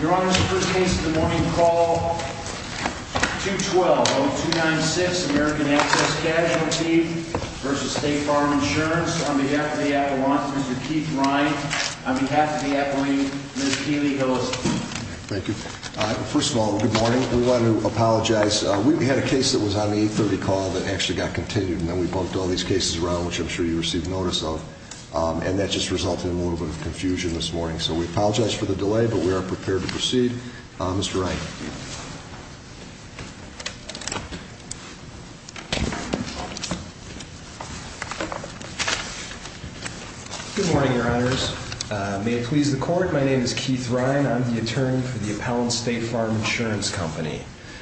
Your Honor, this is the first case of the morning. Call 212-0296, American Access Casualty v. State Farm Insurance. On behalf of the appellant, Mr. Keith Ryan. On behalf of the appellant, Ms. Keely Hillis. Thank you. First of all, good morning. We want to apologize. We had a case that was on the 830 call that actually got continued, and then we bumped all these cases around, which I'm sure you received notice of. And that just resulted in a little bit of confusion this morning. So we apologize for the delay, but we are prepared to proceed. Mr. Ryan. Good morning, Your Honors. May it please the Court, my name is Keith Ryan. I'm the attorney for the appellant's State Farm Insurance Company.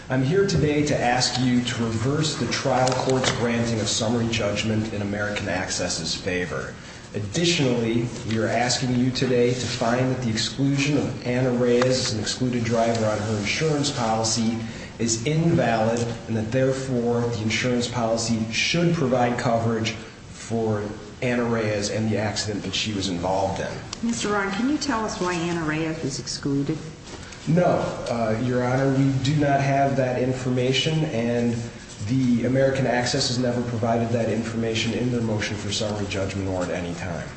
I'm here today to ask you to reverse the trial court's granting of summary judgment in American Access' favor. Additionally, we are asking you today to find that the exclusion of Anna Reyes as an excluded driver on her insurance policy is invalid, and that therefore, the insurance policy should provide coverage for Anna Reyes and the accident that she was involved in. Mr. Ryan, can you tell us why Anna Reyes is excluded? No, Your Honor. We do not have that information, and the American Access has never provided that information in their motion for summary judgment or at any time.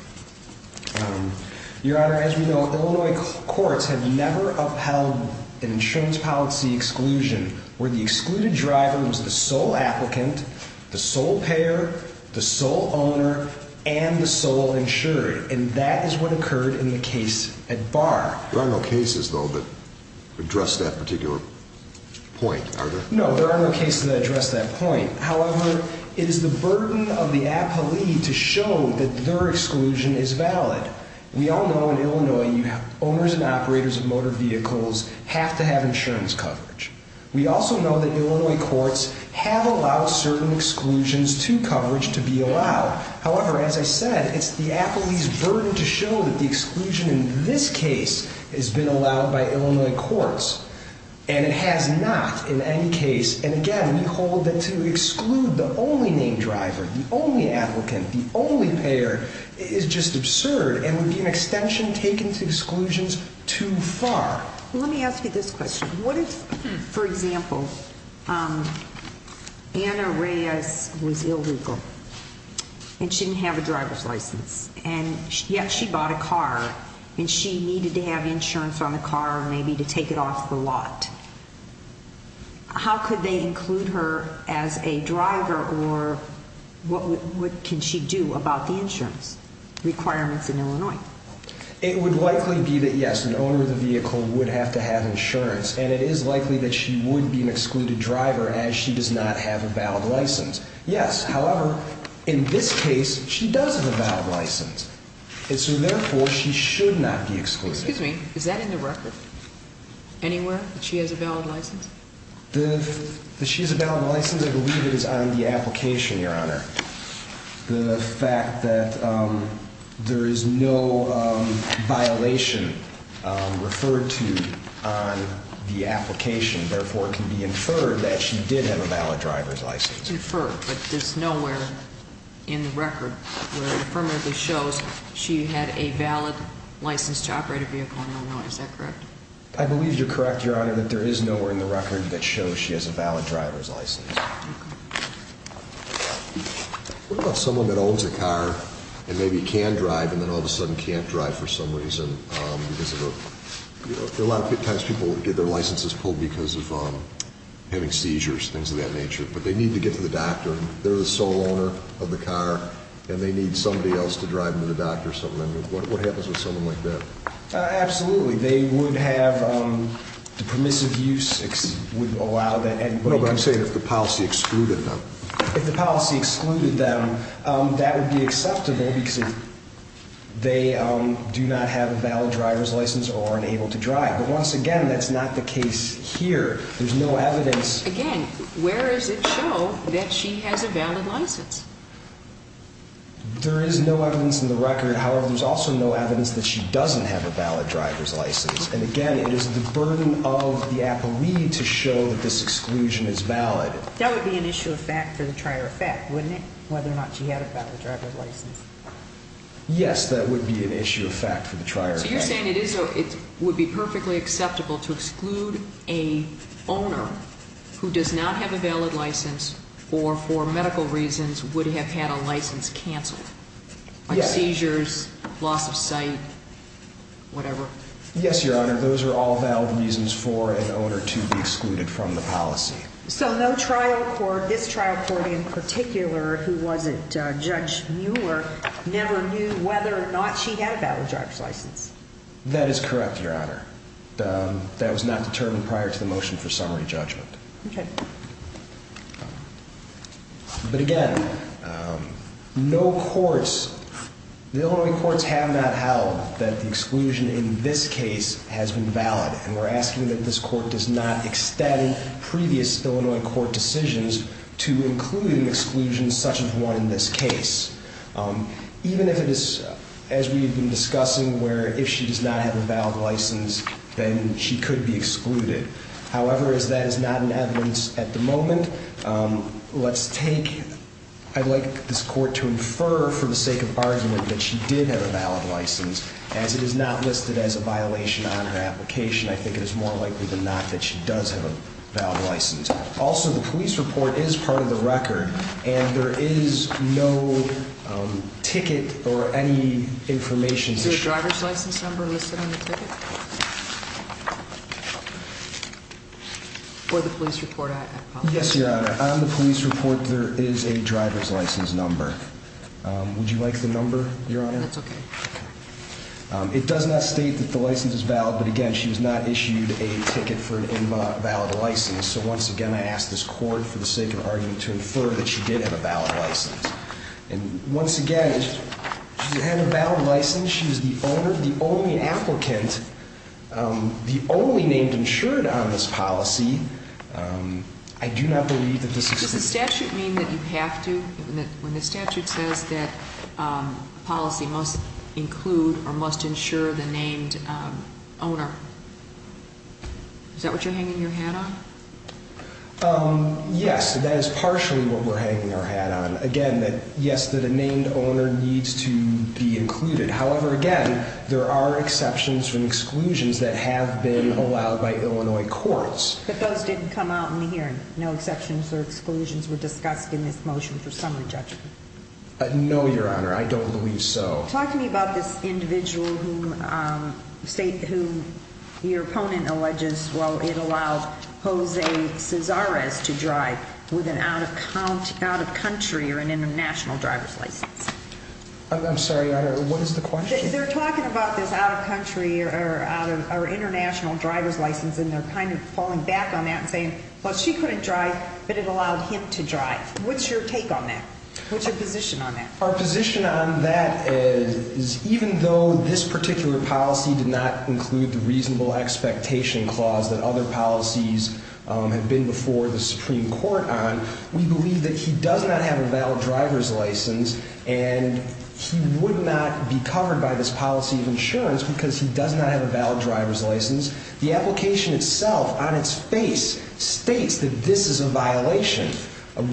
Your Honor, as we know, Illinois courts have never upheld an insurance policy exclusion where the excluded driver was the sole applicant, the sole payer, the sole owner, and the sole insured, and that is what occurred in the case at Barr. There are no cases, though, that address that particular point, are there? No, there are no cases that address that point. However, it is the burden of the appellee to show that their exclusion is valid. We all know in Illinois, owners and operators of motor vehicles have to have insurance coverage. We also know that Illinois courts have allowed certain exclusions to coverage to be allowed. However, as I said, it's the appellee's burden to show that the exclusion in this case has been allowed by Illinois courts, and it has not in any case. And again, we hold that to exclude the only named driver, the only applicant, the only payer, is just absurd and would be an extension taken to exclusions too far. Let me ask you this question. What if, for example, Anna Reyes was illegal and she didn't have a driver's license, and yet she bought a car, and she needed to have insurance on the car or maybe to take it off the lot. How could they include her as a driver, or what can she do about the insurance requirements in Illinois? It would likely be that, yes, an owner of the vehicle would have to have insurance, and it is likely that she would be an excluded driver as she does not have a valid license. Yes, however, in this case, she does have a valid license. And so therefore, she should not be excluded. Excuse me. Is that in the record anywhere, that she has a valid license? She has a valid license. I believe it is on the application, Your Honor. The fact that there is no violation referred to on the application, therefore, it can be inferred that she did have a valid driver's license. Inferred, but there's nowhere in the record where it affirmatively shows she had a valid license to operate a vehicle in Illinois. Is that correct? I believe you're correct, Your Honor, that there is nowhere in the record that shows she has a valid driver's license. What about someone that owns a car, and maybe can drive, and then all of a sudden can't drive for some reason? Because a lot of times people get their licenses pulled because of having seizures, things of that nature. But they need to get to the doctor, and they're the sole owner of the car, and they need somebody else to drive them to the doctor or something. What happens with someone like that? Absolutely. The permissive use would allow that. No, but I'm saying if the policy excluded them. If the policy excluded them, that would be acceptable because they do not have a valid driver's license or are unable to drive. But once again, that's not the case here. There's no evidence. Again, where does it show that she has a valid license? There is no evidence in the record. However, there's also no evidence that she doesn't have a valid driver's license. And again, it is the burden of the appellee to show that this exclusion is valid. That would be an issue of fact for the trier of fact, wouldn't it, whether or not she had a valid driver's license? Yes, that would be an issue of fact for the trier of fact. So you're saying it would be perfectly acceptable to exclude an owner who does not have a valid license or for medical reasons would have had a license canceled? Yes. Like seizures, loss of sight, whatever? Yes, Your Honor. Those are all valid reasons for an owner to be excluded from the policy. So no trial court, this trial court in particular, who wasn't Judge Mueller, never knew whether or not she had a valid driver's license? That is correct, Your Honor. That was not determined prior to the motion for summary judgment. Okay. But again, no courts, the Illinois courts have not held that the exclusion in this case has been valid. And we're asking that this court does not extend previous Illinois court decisions to include an exclusion such as one in this case. Even if it is, as we've been discussing, where if she does not have a valid license, then she could be excluded. However, as that is not in evidence at the moment, let's take, I'd like this court to infer for the sake of argument that she did have a valid license. As it is not listed as a violation on her application, I think it is more likely than not that she does have a valid license. Also, the police report is part of the record, and there is no ticket or any information. Is there a driver's license number listed on the ticket? For the police report, I apologize. Yes, Your Honor. On the police report, there is a driver's license number. Would you like the number, Your Honor? That's okay. It does not state that the license is valid, but again, she was not issued a ticket for an invalid license. So once again, I ask this court, for the sake of argument, to infer that she did have a valid license. And once again, she did have a valid license. She was the owner, the only applicant, the only named insured on this policy. I do not believe that this is... Does the statute mean that you have to, when the statute says that policy must include or must insure the named owner? Is that what you're hanging your hat on? Yes, that is partially what we're hanging our hat on. Again, yes, that a named owner needs to be included. However, again, there are exceptions and exclusions that have been allowed by Illinois courts. But those didn't come out in the hearing? No exceptions or exclusions were discussed in this motion for summary judgment? No, Your Honor. I don't believe so. Talk to me about this individual whom your opponent alleges, well, it allowed Jose Cesarez to drive with an out-of-country or an international driver's license. I'm sorry, Your Honor, what is the question? They're talking about this out-of-country or international driver's license, and they're kind of falling back on that and saying, well, she couldn't drive, but it allowed him to drive. What's your take on that? What's your position on that? Our position on that is even though this particular policy did not include the reasonable expectation clause that other policies have been before the Supreme Court on, we believe that he does not have a valid driver's license, and he would not be covered by this policy of insurance because he does not have a valid driver's license. The application itself, on its face, states that this is a violation.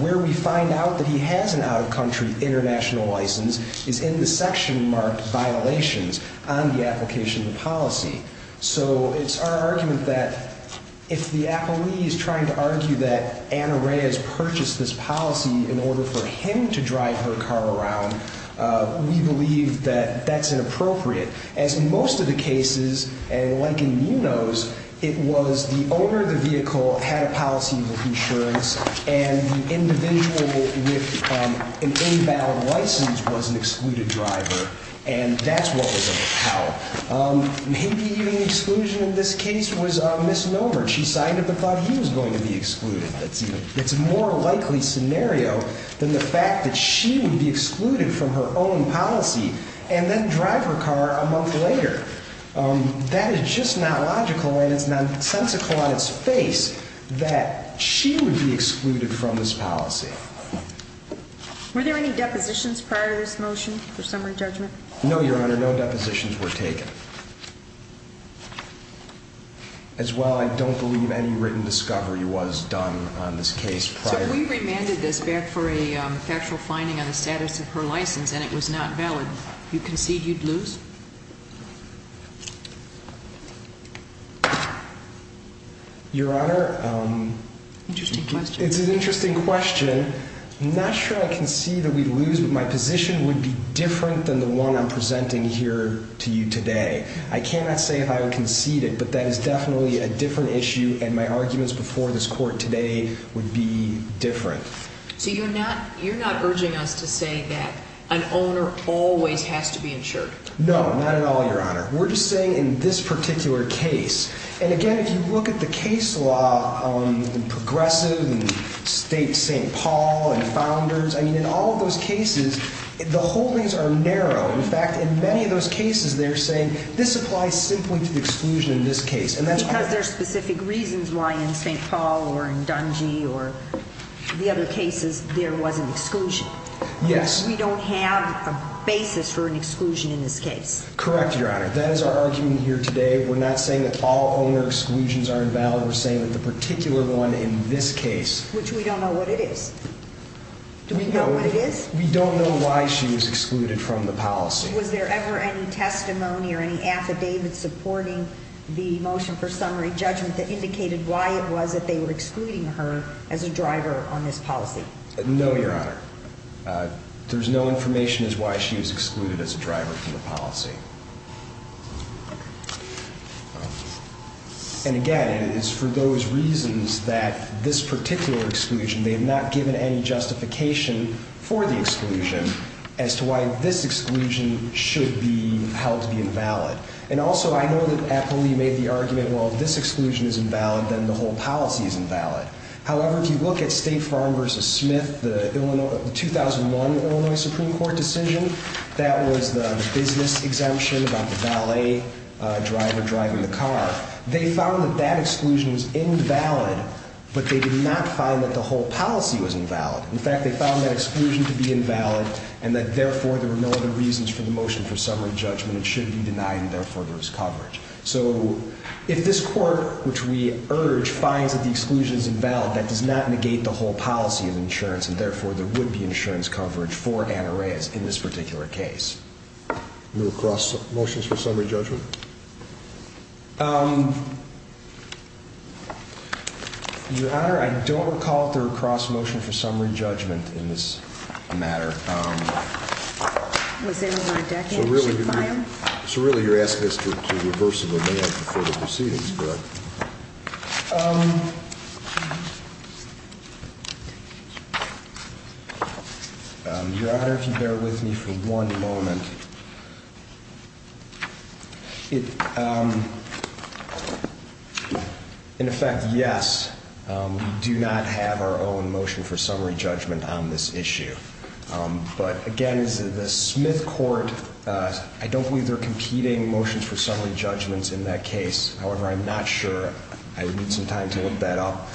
Where we find out that he has an out-of-country international license is in the section marked violations on the application of the policy. So it's our argument that if the appellee is trying to argue that Anna Rae has purchased this policy in order for him to drive her car around, we believe that that's inappropriate. As in most of the cases, and like in Nuno's, it was the owner of the vehicle had a policy of insurance, and the individual with an invalid license was an excluded driver, and that's what was appelled. Maybe even exclusion in this case was misnomer. She signed up and thought he was going to be excluded. It's a more likely scenario than the fact that she would be excluded from her own policy and then drive her car a month later. That is just not logical, and it's nonsensical on its face that she would be excluded from this policy. Were there any depositions prior to this motion for summary judgment? No, Your Honor, no depositions were taken. As well, I don't believe any written discovery was done on this case prior. So if we remanded this back for a factual finding on the status of her license and it was not valid, you concede you'd lose? Your Honor, it's an interesting question. I'm not sure I concede that we'd lose, but my position would be different than the one I'm presenting here to you today. I cannot say if I would concede it, but that is definitely a different issue, and my arguments before this court today would be different. So you're not urging us to say that an owner always has to be insured? No, not at all, Your Honor. We're just saying in this particular case, and again, if you look at the case law in Progressive and State St. Paul and Founders, I mean, in all of those cases, the holdings are narrow. In fact, in many of those cases, they're saying this applies simply to the exclusion in this case. Because there are specific reasons why in St. Paul or in Dungy or the other cases there was an exclusion. Yes. We don't have a basis for an exclusion in this case. Correct, Your Honor. That is our argument here today. We're not saying that all owner exclusions are invalid. We're saying that the particular one in this case... Which we don't know what it is. Do we know what it is? We don't know why she was excluded from the policy. Was there ever any testimony or any affidavit supporting the motion for summary judgment that indicated why it was that they were excluding her as a driver on this policy? No, Your Honor. There's no information as to why she was excluded as a driver from the policy. And again, it is for those reasons that this particular exclusion, they have not given any justification for the exclusion as to why this exclusion should be held to be invalid. And also, I know that Apolli made the argument, well, if this exclusion is invalid, then the whole policy is invalid. However, if you look at State Farm v. Smith, the 2001 Illinois Supreme Court decision, that was the business exemption about the valet driver driving the car. They found that that exclusion was invalid, but they did not find that the whole policy was invalid. In fact, they found that exclusion to be invalid and that, therefore, there were no other reasons for the motion for summary judgment. It should be denied, and therefore, there was coverage. So if this Court, which we urge, finds that the exclusion is invalid, that does not negate the whole policy of insurance, and therefore, there would be insurance coverage for Anna Reyes in this particular case. Do you recross motions for summary judgment? Your Honor, I don't recall if there were cross motions for summary judgment in this matter. So really, you're asking us to reverse the demand before the proceedings, correct? Your Honor, if you bear with me for one moment. In effect, yes, we do not have our own motion for summary judgment on this issue. But again, the Smith Court, I don't believe they're competing motions for summary judgments in that case. However, I'm not sure. I would need some time to look that up.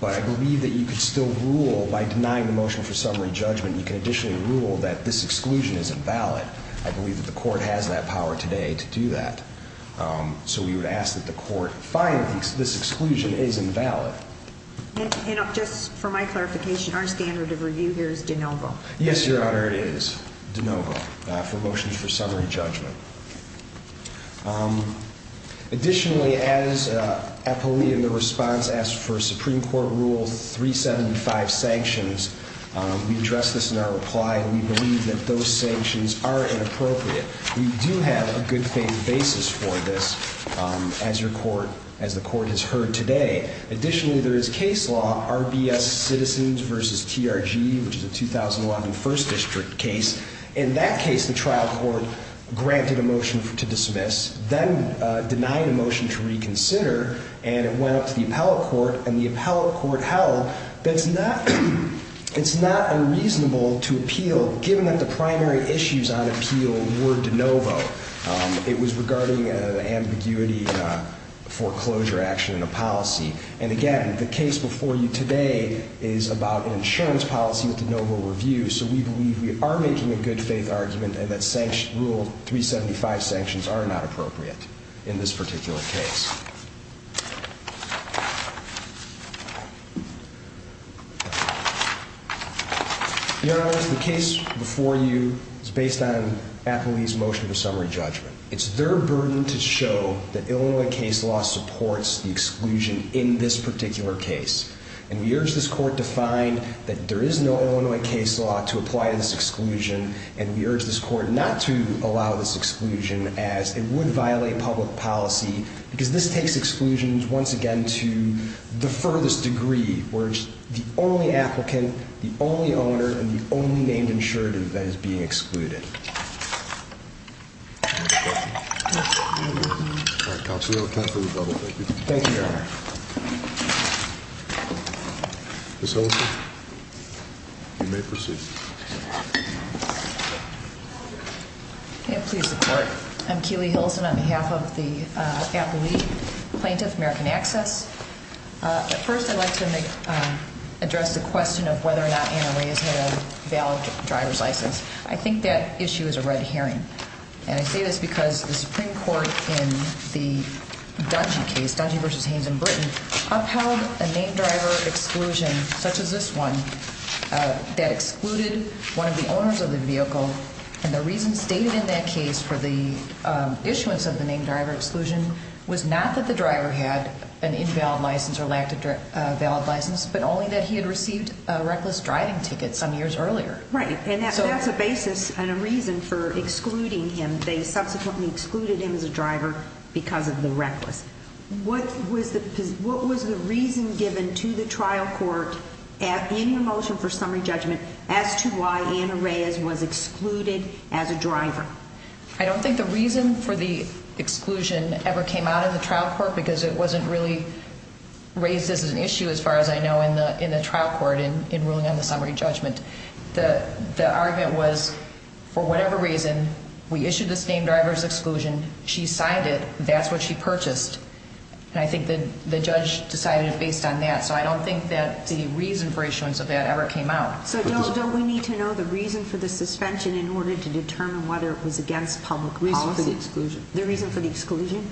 But I believe that you could still rule by denying the motion for summary judgment. You can additionally rule that this exclusion is invalid. I believe that the Court has that power today to do that. So we would ask that the Court find that this exclusion is invalid. And just for my clarification, our standard of review here is de novo. Yes, Your Honor, it is de novo for motions for summary judgment. Additionally, as Epelee in the response asked for Supreme Court Rule 375 sanctions, we address this in our reply. We believe that those sanctions are inappropriate. We do have a good faith basis for this, as the Court has heard today. Additionally, there is case law, RBS Citizens v. TRG, which is a 2011 First District case. In that case, the trial court granted a motion to dismiss, then denied a motion to reconsider, and it went up to the appellate court, and the appellate court held that it's not unreasonable to appeal, given that the primary issues on appeal were de novo. It was regarding an ambiguity foreclosure action in a policy. And again, the case before you today is about an insurance policy with de novo review, so we believe we are making a good faith argument and that Rule 375 sanctions are not appropriate in this particular case. Your Honor, the case before you is based on Epelee's motion for summary judgment. It's their burden to show that Illinois case law supports the exclusion in this particular case. And we urge this Court to find that there is no Illinois case law to apply this exclusion, and we urge this Court not to allow this exclusion, as it would violate public policy, because this takes exclusions, once again, to the furthest degree, where it's the only applicant, the only owner, and the only named insurative that is being excluded. Thank you, Your Honor. Ms. Hilsen, you may proceed. May it please the Court. I'm Keely Hilsen on behalf of the Epelee Plaintiff, American Access. First, I'd like to address the question of whether or not Anna Reyes had a valid driver's license. I think that issue is a red herring. And I say this because the Supreme Court in the Dungy case, Dungy v. Haynes in Britain, upheld a named driver exclusion, such as this one, that excluded one of the owners of the vehicle. And the reason stated in that case for the issuance of the named driver exclusion was not that the driver had an invalid license or lacked a valid license, but only that he had received a reckless driving ticket some years earlier. Right, and that's a basis and a reason for excluding him. What was the reason given to the trial court in the motion for summary judgment as to why Anna Reyes was excluded as a driver? I don't think the reason for the exclusion ever came out in the trial court because it wasn't really raised as an issue, as far as I know, in the trial court in ruling on the summary judgment. The argument was, for whatever reason, we issued this named driver's exclusion, she signed it, that's what she purchased, and I think the judge decided based on that. So I don't think that the reason for issuance of that ever came out. So don't we need to know the reason for the suspension in order to determine whether it was against public policy? The reason for the exclusion. The reason for the exclusion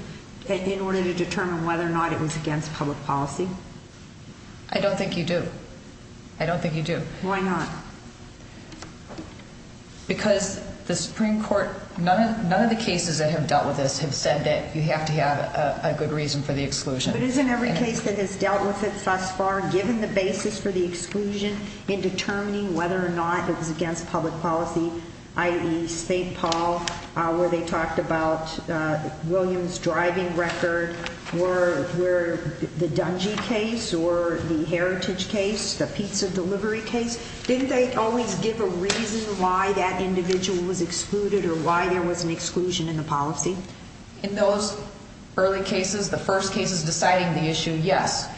in order to determine whether or not it was against public policy? I don't think you do. I don't think you do. Why not? Because the Supreme Court, none of the cases that have dealt with this have said that you have to have a good reason for the exclusion. But isn't every case that has dealt with it thus far, given the basis for the exclusion, in determining whether or not it was against public policy, i.e. St. Paul, where they talked about Williams' driving record, where the Dungy case or the Heritage case, the pizza delivery case, didn't they always give a reason why that individual was excluded or why there was an exclusion in the policy? In those early cases, the first cases deciding the issue, yes.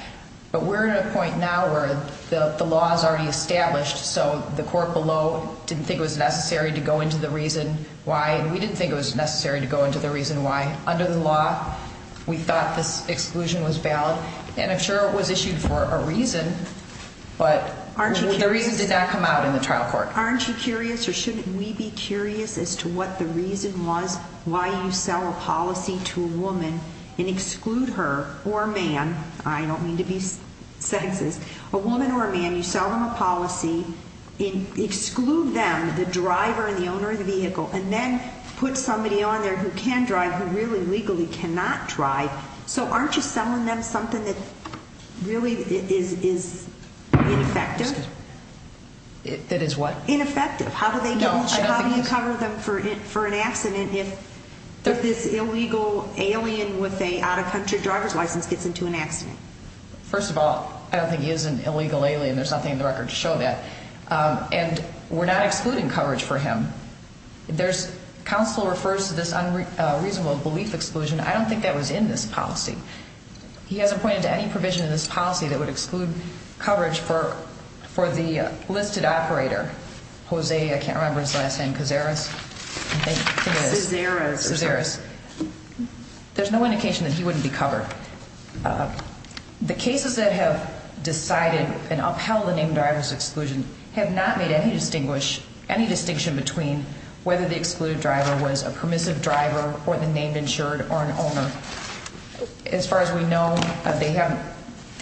But we're at a point now where the law is already established, so the court below didn't think it was necessary to go into the reason why, and we didn't think it was necessary to go into the reason why. Under the law, we thought this exclusion was valid, and I'm sure it was issued for a reason, but the reason did not come out in the trial court. Aren't you curious, or shouldn't we be curious as to what the reason was why you sell a policy to a woman and exclude her or a man? I don't mean to be sexist. A woman or a man, you sell them a policy and exclude them, the driver and the owner of the vehicle, and then put somebody on there who can drive who really legally cannot drive. So aren't you selling them something that really is ineffective? That is what? Ineffective. How do you cover them for an accident if this illegal alien with an out-of-country driver's license gets into an accident? First of all, I don't think he is an illegal alien. There's nothing in the record to show that. And we're not excluding coverage for him. Counsel refers to this unreasonable belief exclusion. I don't think that was in this policy. He hasn't pointed to any provision in this policy that would exclude coverage for the listed operator, Jose, I can't remember his last name, Cazares. Cazares. Cazares. There's no indication that he wouldn't be covered. The cases that have decided and upheld the named driver's exclusion have not made any distinction between whether the excluded driver was a permissive driver or the named insured or an owner. As far as we know, they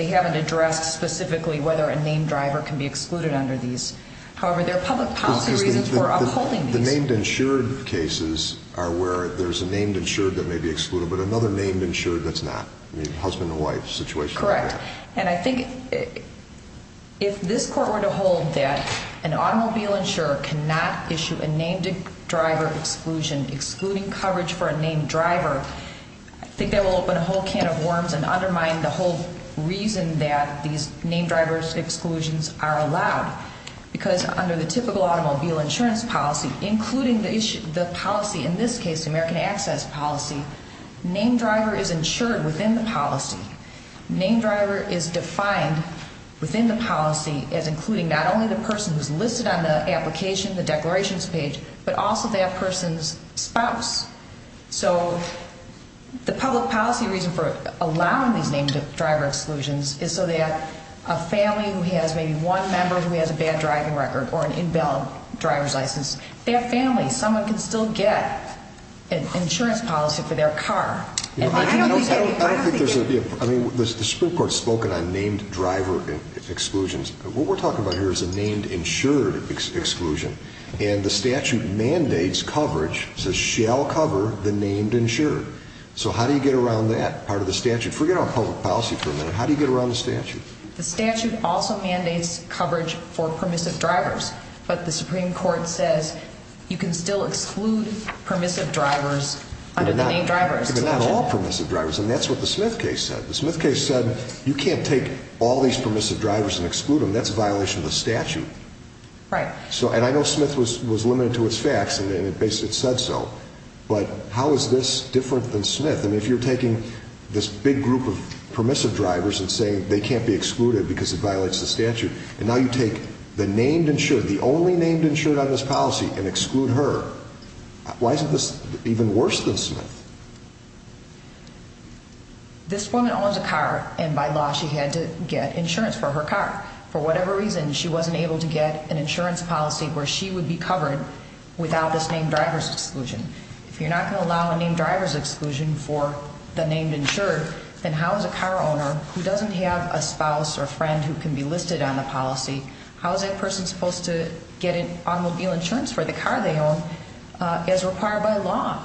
haven't addressed specifically whether a named driver can be excluded under these. However, there are public policy reasons for upholding these. The named insured cases are where there's a named insured that may be excluded but another named insured that's not. Husband and wife situation. Correct. And I think if this court were to hold that an automobile insurer cannot issue a named driver exclusion excluding coverage for a named driver, I think that will open a whole can of worms and undermine the whole reason that these named driver exclusions are allowed. Because under the typical automobile insurance policy, including the policy, in this case the American Access policy, named driver is insured within the policy. Named driver is defined within the policy as including not only the person who's listed on the application, the declarations page, but also that person's spouse. So the public policy reason for allowing these named driver exclusions is so that a family who has maybe one member who has a bad driving record or an invalid driver's license, their family, someone can still get an insurance policy for their car. I don't think there's a, I mean, the Supreme Court's spoken on named driver exclusions. What we're talking about here is a named insured exclusion. And the statute mandates coverage, says shall cover the named insured. So how do you get around that part of the statute? Forget our public policy for a minute. How do you get around the statute? The statute also mandates coverage for permissive drivers. But the Supreme Court says you can still exclude permissive drivers under the named drivers. But not all permissive drivers, and that's what the Smith case said. The Smith case said you can't take all these permissive drivers and exclude them. That's a violation of the statute. Right. And I know Smith was limited to its facts, and it basically said so. But how is this different than Smith? I mean, if you're taking this big group of permissive drivers and saying they can't be excluded because it violates the statute, and now you take the named insured, the only named insured on this policy, and exclude her, why is this even worse than Smith? This woman owns a car, and by law she had to get insurance for her car. For whatever reason, she wasn't able to get an insurance policy where she would be covered without this named drivers exclusion. If you're not going to allow a named drivers exclusion for the named insured, then how is a car owner who doesn't have a spouse or friend who can be listed on the policy, how is that person supposed to get automobile insurance for the car they own as required by law?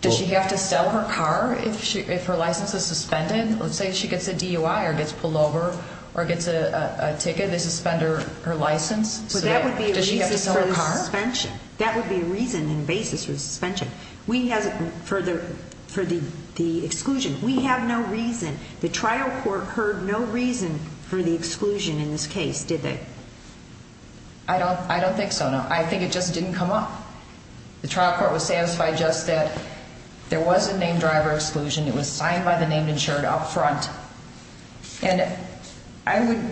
Does she have to sell her car if her license is suspended? Let's say she gets a DUI or gets pulled over or gets a ticket, they suspend her license. Does she have to sell her car? That would be a reason and basis for suspension. For the exclusion, we have no reason. The trial court heard no reason for the exclusion in this case, did they? I don't think so, no. I think it just didn't come up. The trial court was satisfied just that there was a named driver exclusion. It was signed by the named insured up front. And I would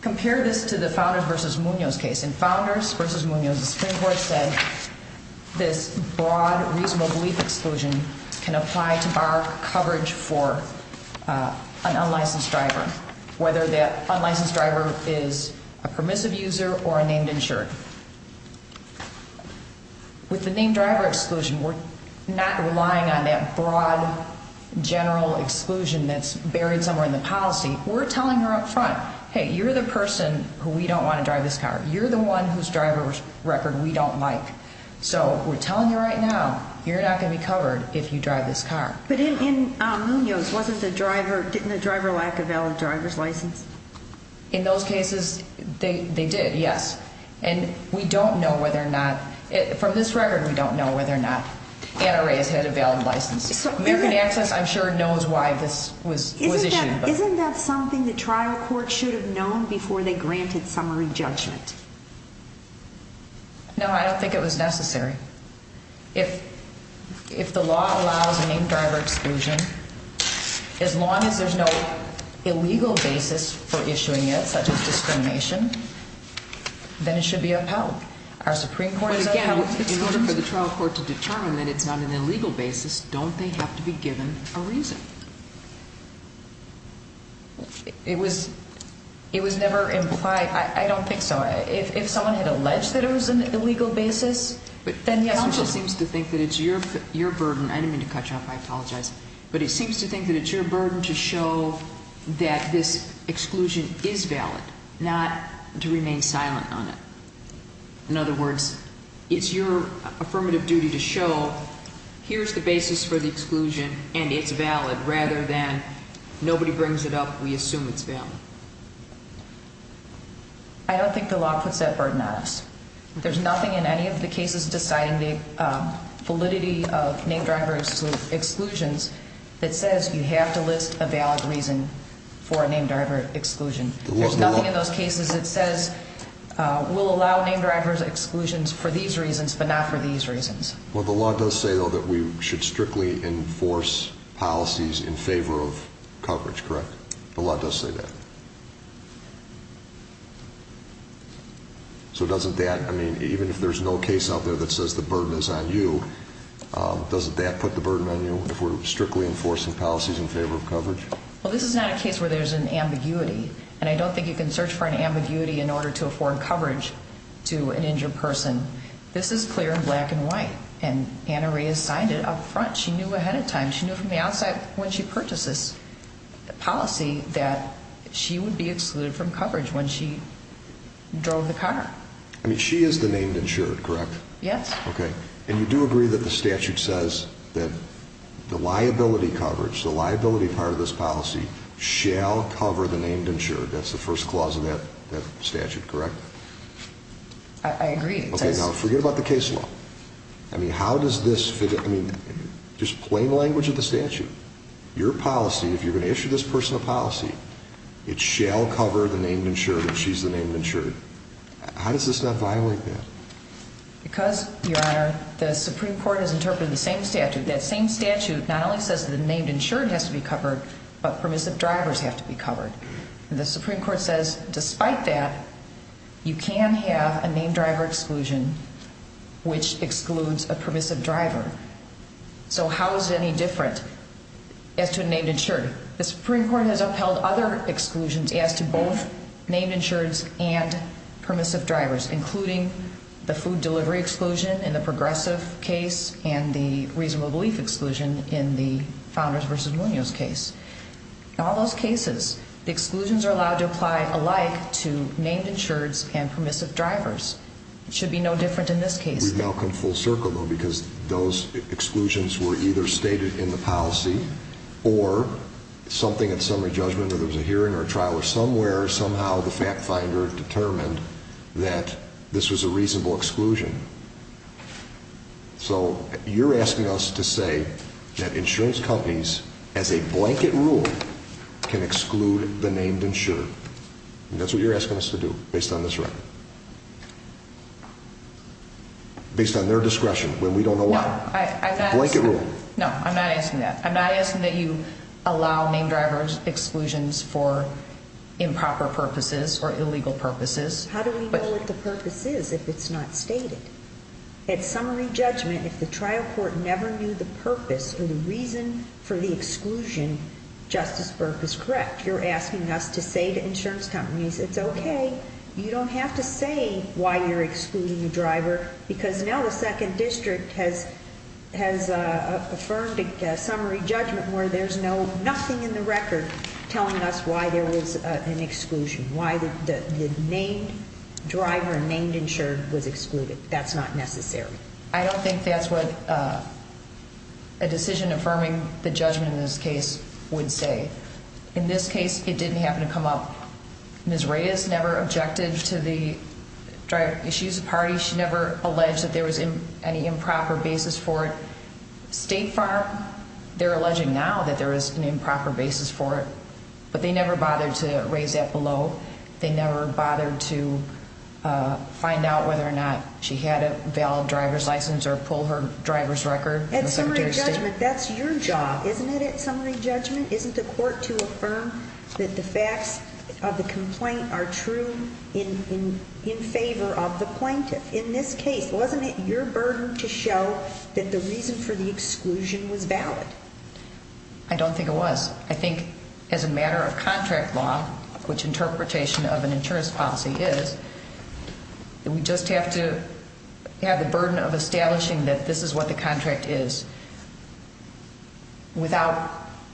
compare this to the Founders v. Munoz case. In Founders v. Munoz, the Supreme Court said this broad, reasonable belief exclusion can apply to bar coverage for an unlicensed driver, whether that unlicensed driver is a permissive user or a named insured. With the named driver exclusion, we're not relying on that broad, general exclusion that's buried somewhere in the policy. We're telling her up front, hey, you're the person who we don't want to drive this car. You're the one whose driver's record we don't like. So we're telling you right now, you're not going to be covered if you drive this car. But in Munoz, didn't the driver lack a valid driver's license? In those cases, they did, yes. And we don't know whether or not, from this record, we don't know whether or not Anna Reyes had a valid license. American Access, I'm sure, knows why this was issued. Isn't that something the trial court should have known before they granted summary judgment? No, I don't think it was necessary. If the law allows a named driver exclusion, as long as there's no illegal basis for issuing it, such as discrimination, then it should be upheld. But again, in order for the trial court to determine that it's not an illegal basis, don't they have to be given a reason? It was never implied. I don't think so. If someone had alleged that it was an illegal basis, then yes. Counsel just seems to think that it's your burden. I didn't mean to cut you off. I apologize. But it seems to think that it's your burden to show that this exclusion is valid, not to remain silent on it. In other words, it's your affirmative duty to show here's the basis for the exclusion and it's valid, rather than nobody brings it up, we assume it's valid. I don't think the law puts that burden on us. There's nothing in any of the cases deciding the validity of named driver exclusions that says you have to list a valid reason for a named driver exclusion. There's nothing in those cases that says we'll allow named driver exclusions for these reasons, but not for these reasons. Well, the law does say, though, that we should strictly enforce policies in favor of coverage, correct? The law does say that. So doesn't that, I mean, even if there's no case out there that says the burden is on you, doesn't that put the burden on you if we're strictly enforcing policies in favor of coverage? Well, this is not a case where there's an ambiguity, and I don't think you can search for an ambiguity in order to afford coverage to an injured person. This is clear in black and white, and Anna Rhea signed it up front. She knew ahead of time. She knew from the outset when she purchased this policy that she would be excluded from coverage when she drove the car. I mean, she is the named insured, correct? Yes. Okay. And you do agree that the statute says that the liability coverage, the liability part of this policy, shall cover the named insured. That's the first clause of that statute, correct? I agree. Okay, now forget about the case law. I mean, how does this fit in? I mean, just plain language of the statute. Your policy, if you're going to issue this person a policy, it shall cover the named insured if she's the named insured. How does this not violate that? Because, Your Honor, the Supreme Court has interpreted the same statute. That same statute not only says the named insured has to be covered, but permissive drivers have to be covered. The Supreme Court says despite that, you can have a named driver exclusion which excludes a permissive driver. So how is it any different as to a named insured? The Supreme Court has upheld other exclusions as to both named insureds and permissive drivers, including the food delivery exclusion in the Progressive case and the reasonable belief exclusion in the Founders v. Munoz case. In all those cases, the exclusions are allowed to apply alike to named insureds and permissive drivers. It should be no different in this case. We've now come full circle, though, because those exclusions were either stated in the policy or something at summary judgment, whether it was a hearing or a trial, or somewhere, somehow, the fact finder determined that this was a reasonable exclusion. So you're asking us to say that insurance companies, as a blanket rule, can exclude the named insured. And that's what you're asking us to do, based on this record. Based on their discretion, when we don't know why. No, I'm not asking that. Blanket rule. No, I'm not asking that. I'm not asking that you allow named driver exclusions for improper purposes or illegal purposes. How do we know what the purpose is if it's not stated? At summary judgment, if the trial court never knew the purpose or the reason for the exclusion, Justice Burke is correct. You're asking us to say to insurance companies, it's okay. You don't have to say why you're excluding a driver, because now the Second District has affirmed a summary judgment where there's nothing in the record telling us why there was an exclusion, why the named driver, named insured, was excluded. That's not necessary. I don't think that's what a decision affirming the judgment in this case would say. In this case, it didn't happen to come up. Ms. Reyes never objected to the driver. She's a party. She never alleged that there was any improper basis for it. They're alleging now that there is an improper basis for it, but they never bothered to raise that below. They never bothered to find out whether or not she had a valid driver's license or pull her driver's record from the Secretary of State. At summary judgment, that's your job, isn't it, at summary judgment? Isn't the court to affirm that the facts of the complaint are true in favor of the plaintiff? In this case, wasn't it your burden to show that the reason for the exclusion was valid? I don't think it was. I think as a matter of contract law, which interpretation of an insurance policy is, we just have to have the burden of establishing that this is what the contract is without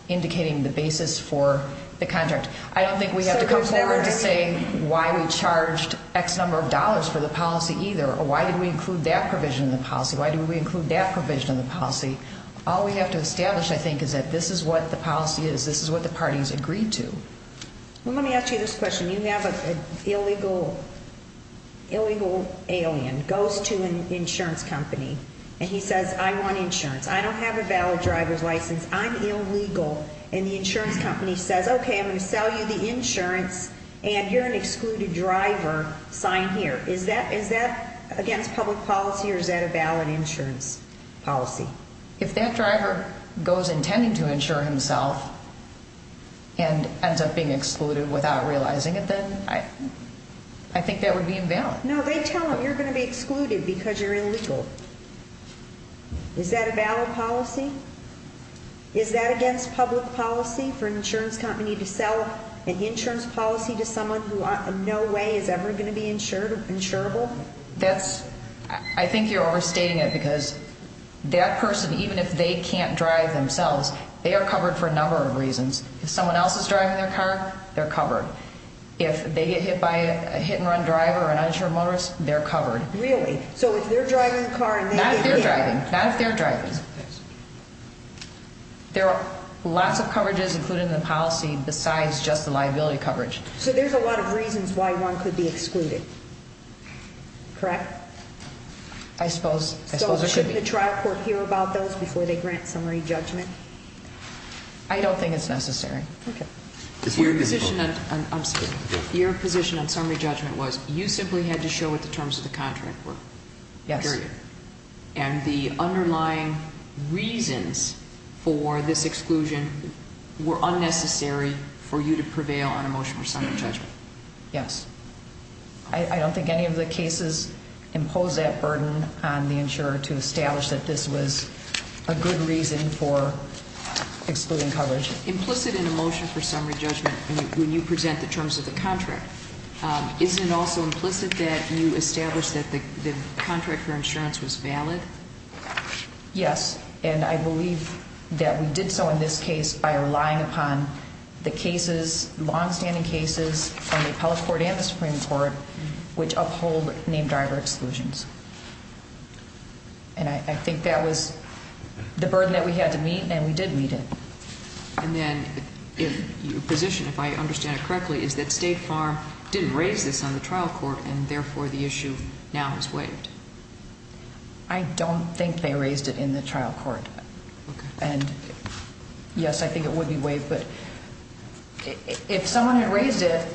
indicating the basis for the contract. I don't think we have to come forward to say why we charged X number of dollars for the policy either or why did we include that provision in the policy, why did we include that provision in the policy. All we have to establish, I think, is that this is what the policy is. This is what the parties agreed to. Well, let me ask you this question. You have an illegal alien goes to an insurance company, and he says, I want insurance. I don't have a valid driver's license. I'm illegal. And the insurance company says, okay, I'm going to sell you the insurance, and you're an excluded driver. Sign here. Is that against public policy, or is that a valid insurance policy? If that driver goes intending to insure himself and ends up being excluded without realizing it, then I think that would be invalid. No, they tell him, you're going to be excluded because you're illegal. Is that a valid policy? Is that against public policy for an insurance company to sell an insurance policy to someone who in no way is ever going to be insurable? I think you're overstating it because that person, even if they can't drive themselves, they are covered for a number of reasons. If someone else is driving their car, they're covered. If they get hit by a hit-and-run driver or an uninsured motorist, they're covered. So if they're driving the car and they get hit? Not if they're driving. There are lots of coverages included in the policy besides just the liability coverage. So there's a lot of reasons why one could be excluded, correct? I suppose there should be. So shouldn't the trial court hear about those before they grant summary judgment? I don't think it's necessary. Okay. Your position on summary judgment was you simply had to show what the terms of the contract were, period. And the underlying reasons for this exclusion were unnecessary for you to prevail on a motion for summary judgment. Yes. I don't think any of the cases impose that burden on the insurer to establish that this was a good reason for excluding coverage. Implicit in a motion for summary judgment when you present the terms of the contract, isn't it also implicit that you established that the contract for insurance was valid? Yes, and I believe that we did so in this case by relying upon the cases, long-standing cases from the Appellate Court and the Supreme Court, which uphold name-driver exclusions. And I think that was the burden that we had to meet, and we did meet it. And then your position, if I understand it correctly, is that State Farm didn't raise this on the trial court, and therefore the issue now is waived. I don't think they raised it in the trial court. Okay. And, yes, I think it would be waived. But if someone had raised it,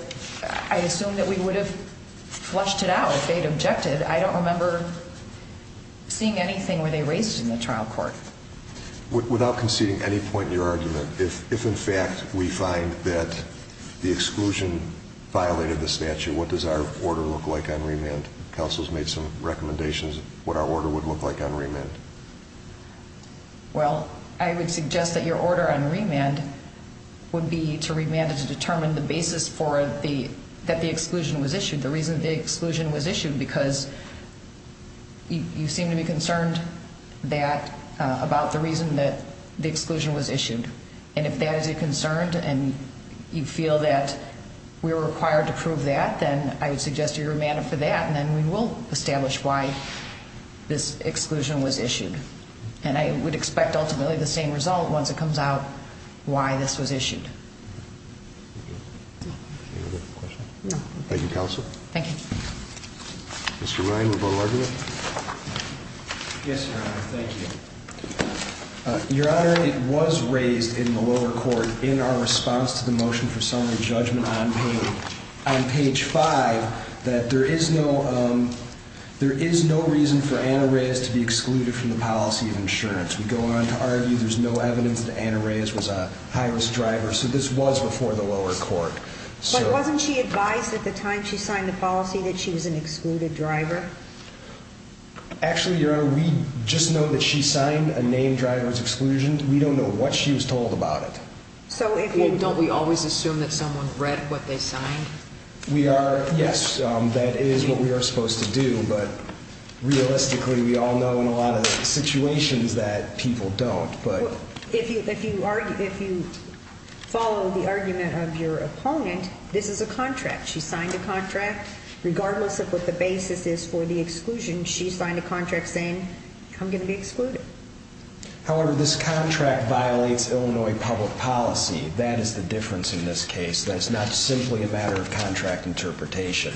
I assume that we would have flushed it out if they'd objected. I don't remember seeing anything where they raised it in the trial court. Without conceding any point in your argument, if, in fact, we find that the exclusion violated the statute, what does our order look like on remand? Counsel has made some recommendations of what our order would look like on remand. Well, I would suggest that your order on remand would be to remand it to determine the basis that the exclusion was issued, the reason the exclusion was issued, because you seem to be concerned about the reason that the exclusion was issued. And if that is a concern and you feel that we're required to prove that, then I would suggest a remand for that, and then we will establish why this exclusion was issued. And I would expect ultimately the same result once it comes out why this was issued. Thank you. Any other questions? No. Thank you, Counsel. Thank you. Mr. Ryan, report of argument. Yes, Your Honor, thank you. Your Honor, it was raised in the lower court in our response to the motion for summary judgment on page 5 We go on to argue there's no evidence that Anna Reyes was a high-risk driver, so this was before the lower court. But wasn't she advised at the time she signed the policy that she was an excluded driver? Actually, Your Honor, we just know that she signed a name driver's exclusion. We don't know what she was told about it. So don't we always assume that someone read what they signed? Yes, that is what we are supposed to do. But realistically, we all know in a lot of situations that people don't. If you follow the argument of your opponent, this is a contract. She signed a contract. Regardless of what the basis is for the exclusion, she signed a contract saying, I'm going to be excluded. However, this contract violates Illinois public policy. That is the difference in this case. That is not simply a matter of contract interpretation.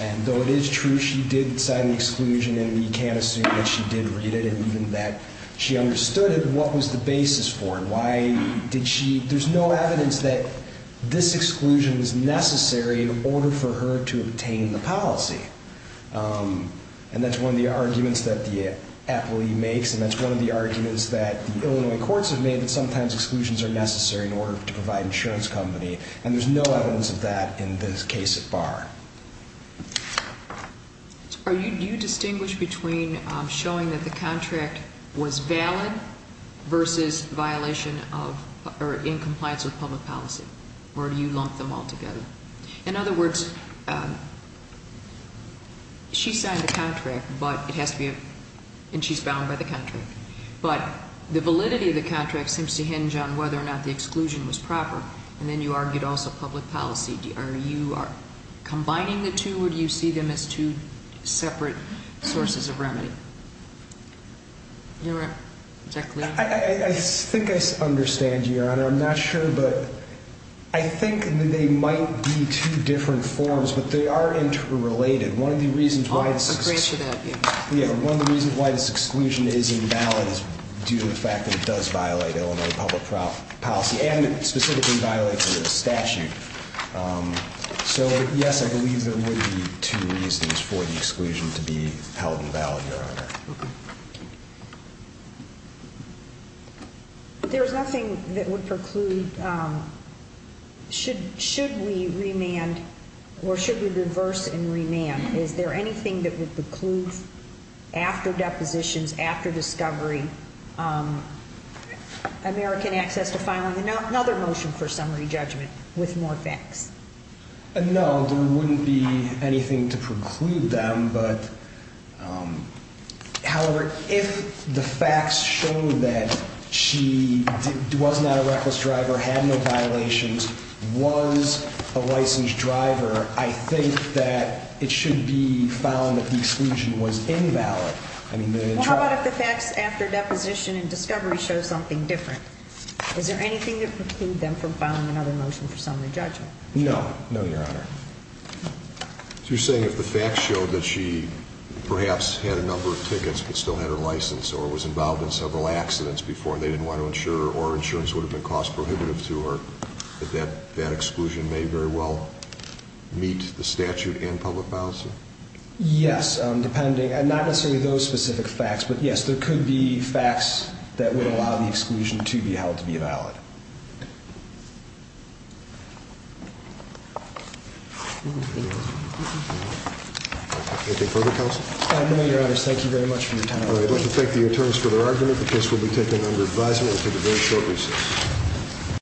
And though it is true she did sign the exclusion, and you can't assume that she did read it and even that she understood it, what was the basis for it? There's no evidence that this exclusion was necessary in order for her to obtain the policy. And that's one of the arguments that the appellee makes, and that's one of the arguments that the Illinois courts have made, that sometimes exclusions are necessary in order to provide insurance company. And there's no evidence of that in this case at bar. Do you distinguish between showing that the contract was valid versus in compliance with public policy? Or do you lump them all together? In other words, she signed the contract, and she's bound by the contract. But the validity of the contract seems to hinge on whether or not the exclusion was proper, and then you argued also public policy. Are you combining the two, or do you see them as two separate sources of remedy? I think I understand you, Your Honor. I'm not sure, but I think they might be two different forms, but they are interrelated. One of the reasons why this exclusion is invalid is due to the fact that it does violate Illinois public policy, and specifically violates the statute. So, yes, I believe there would be two reasons for the exclusion to be held invalid, Your Honor. There's nothing that would preclude, should we remand or should we reverse and remand? Is there anything that would preclude, after depositions, after discovery, American access to filing another motion for summary judgment with more facts? No, there wouldn't be anything to preclude them. However, if the facts show that she was not a reckless driver, had no violations, was a licensed driver, I think that it should be found that the exclusion was invalid. Well, how about if the facts after deposition and discovery show something different? Is there anything that would preclude them from filing another motion for summary judgment? No. No, Your Honor. So you're saying if the facts showed that she perhaps had a number of tickets but still had her license or was involved in several accidents before and they didn't want to insure her or insurance would have been cost prohibitive to her, that that exclusion may very well meet the statute and public policy? Yes, not necessarily those specific facts, but yes, there could be facts that would allow the exclusion to be held to be valid. Anything further, Counsel? No, Your Honors. Thank you very much for your time. I'd like to thank the attorneys for their argument. The case will be taken under advisement and will take a very short recess.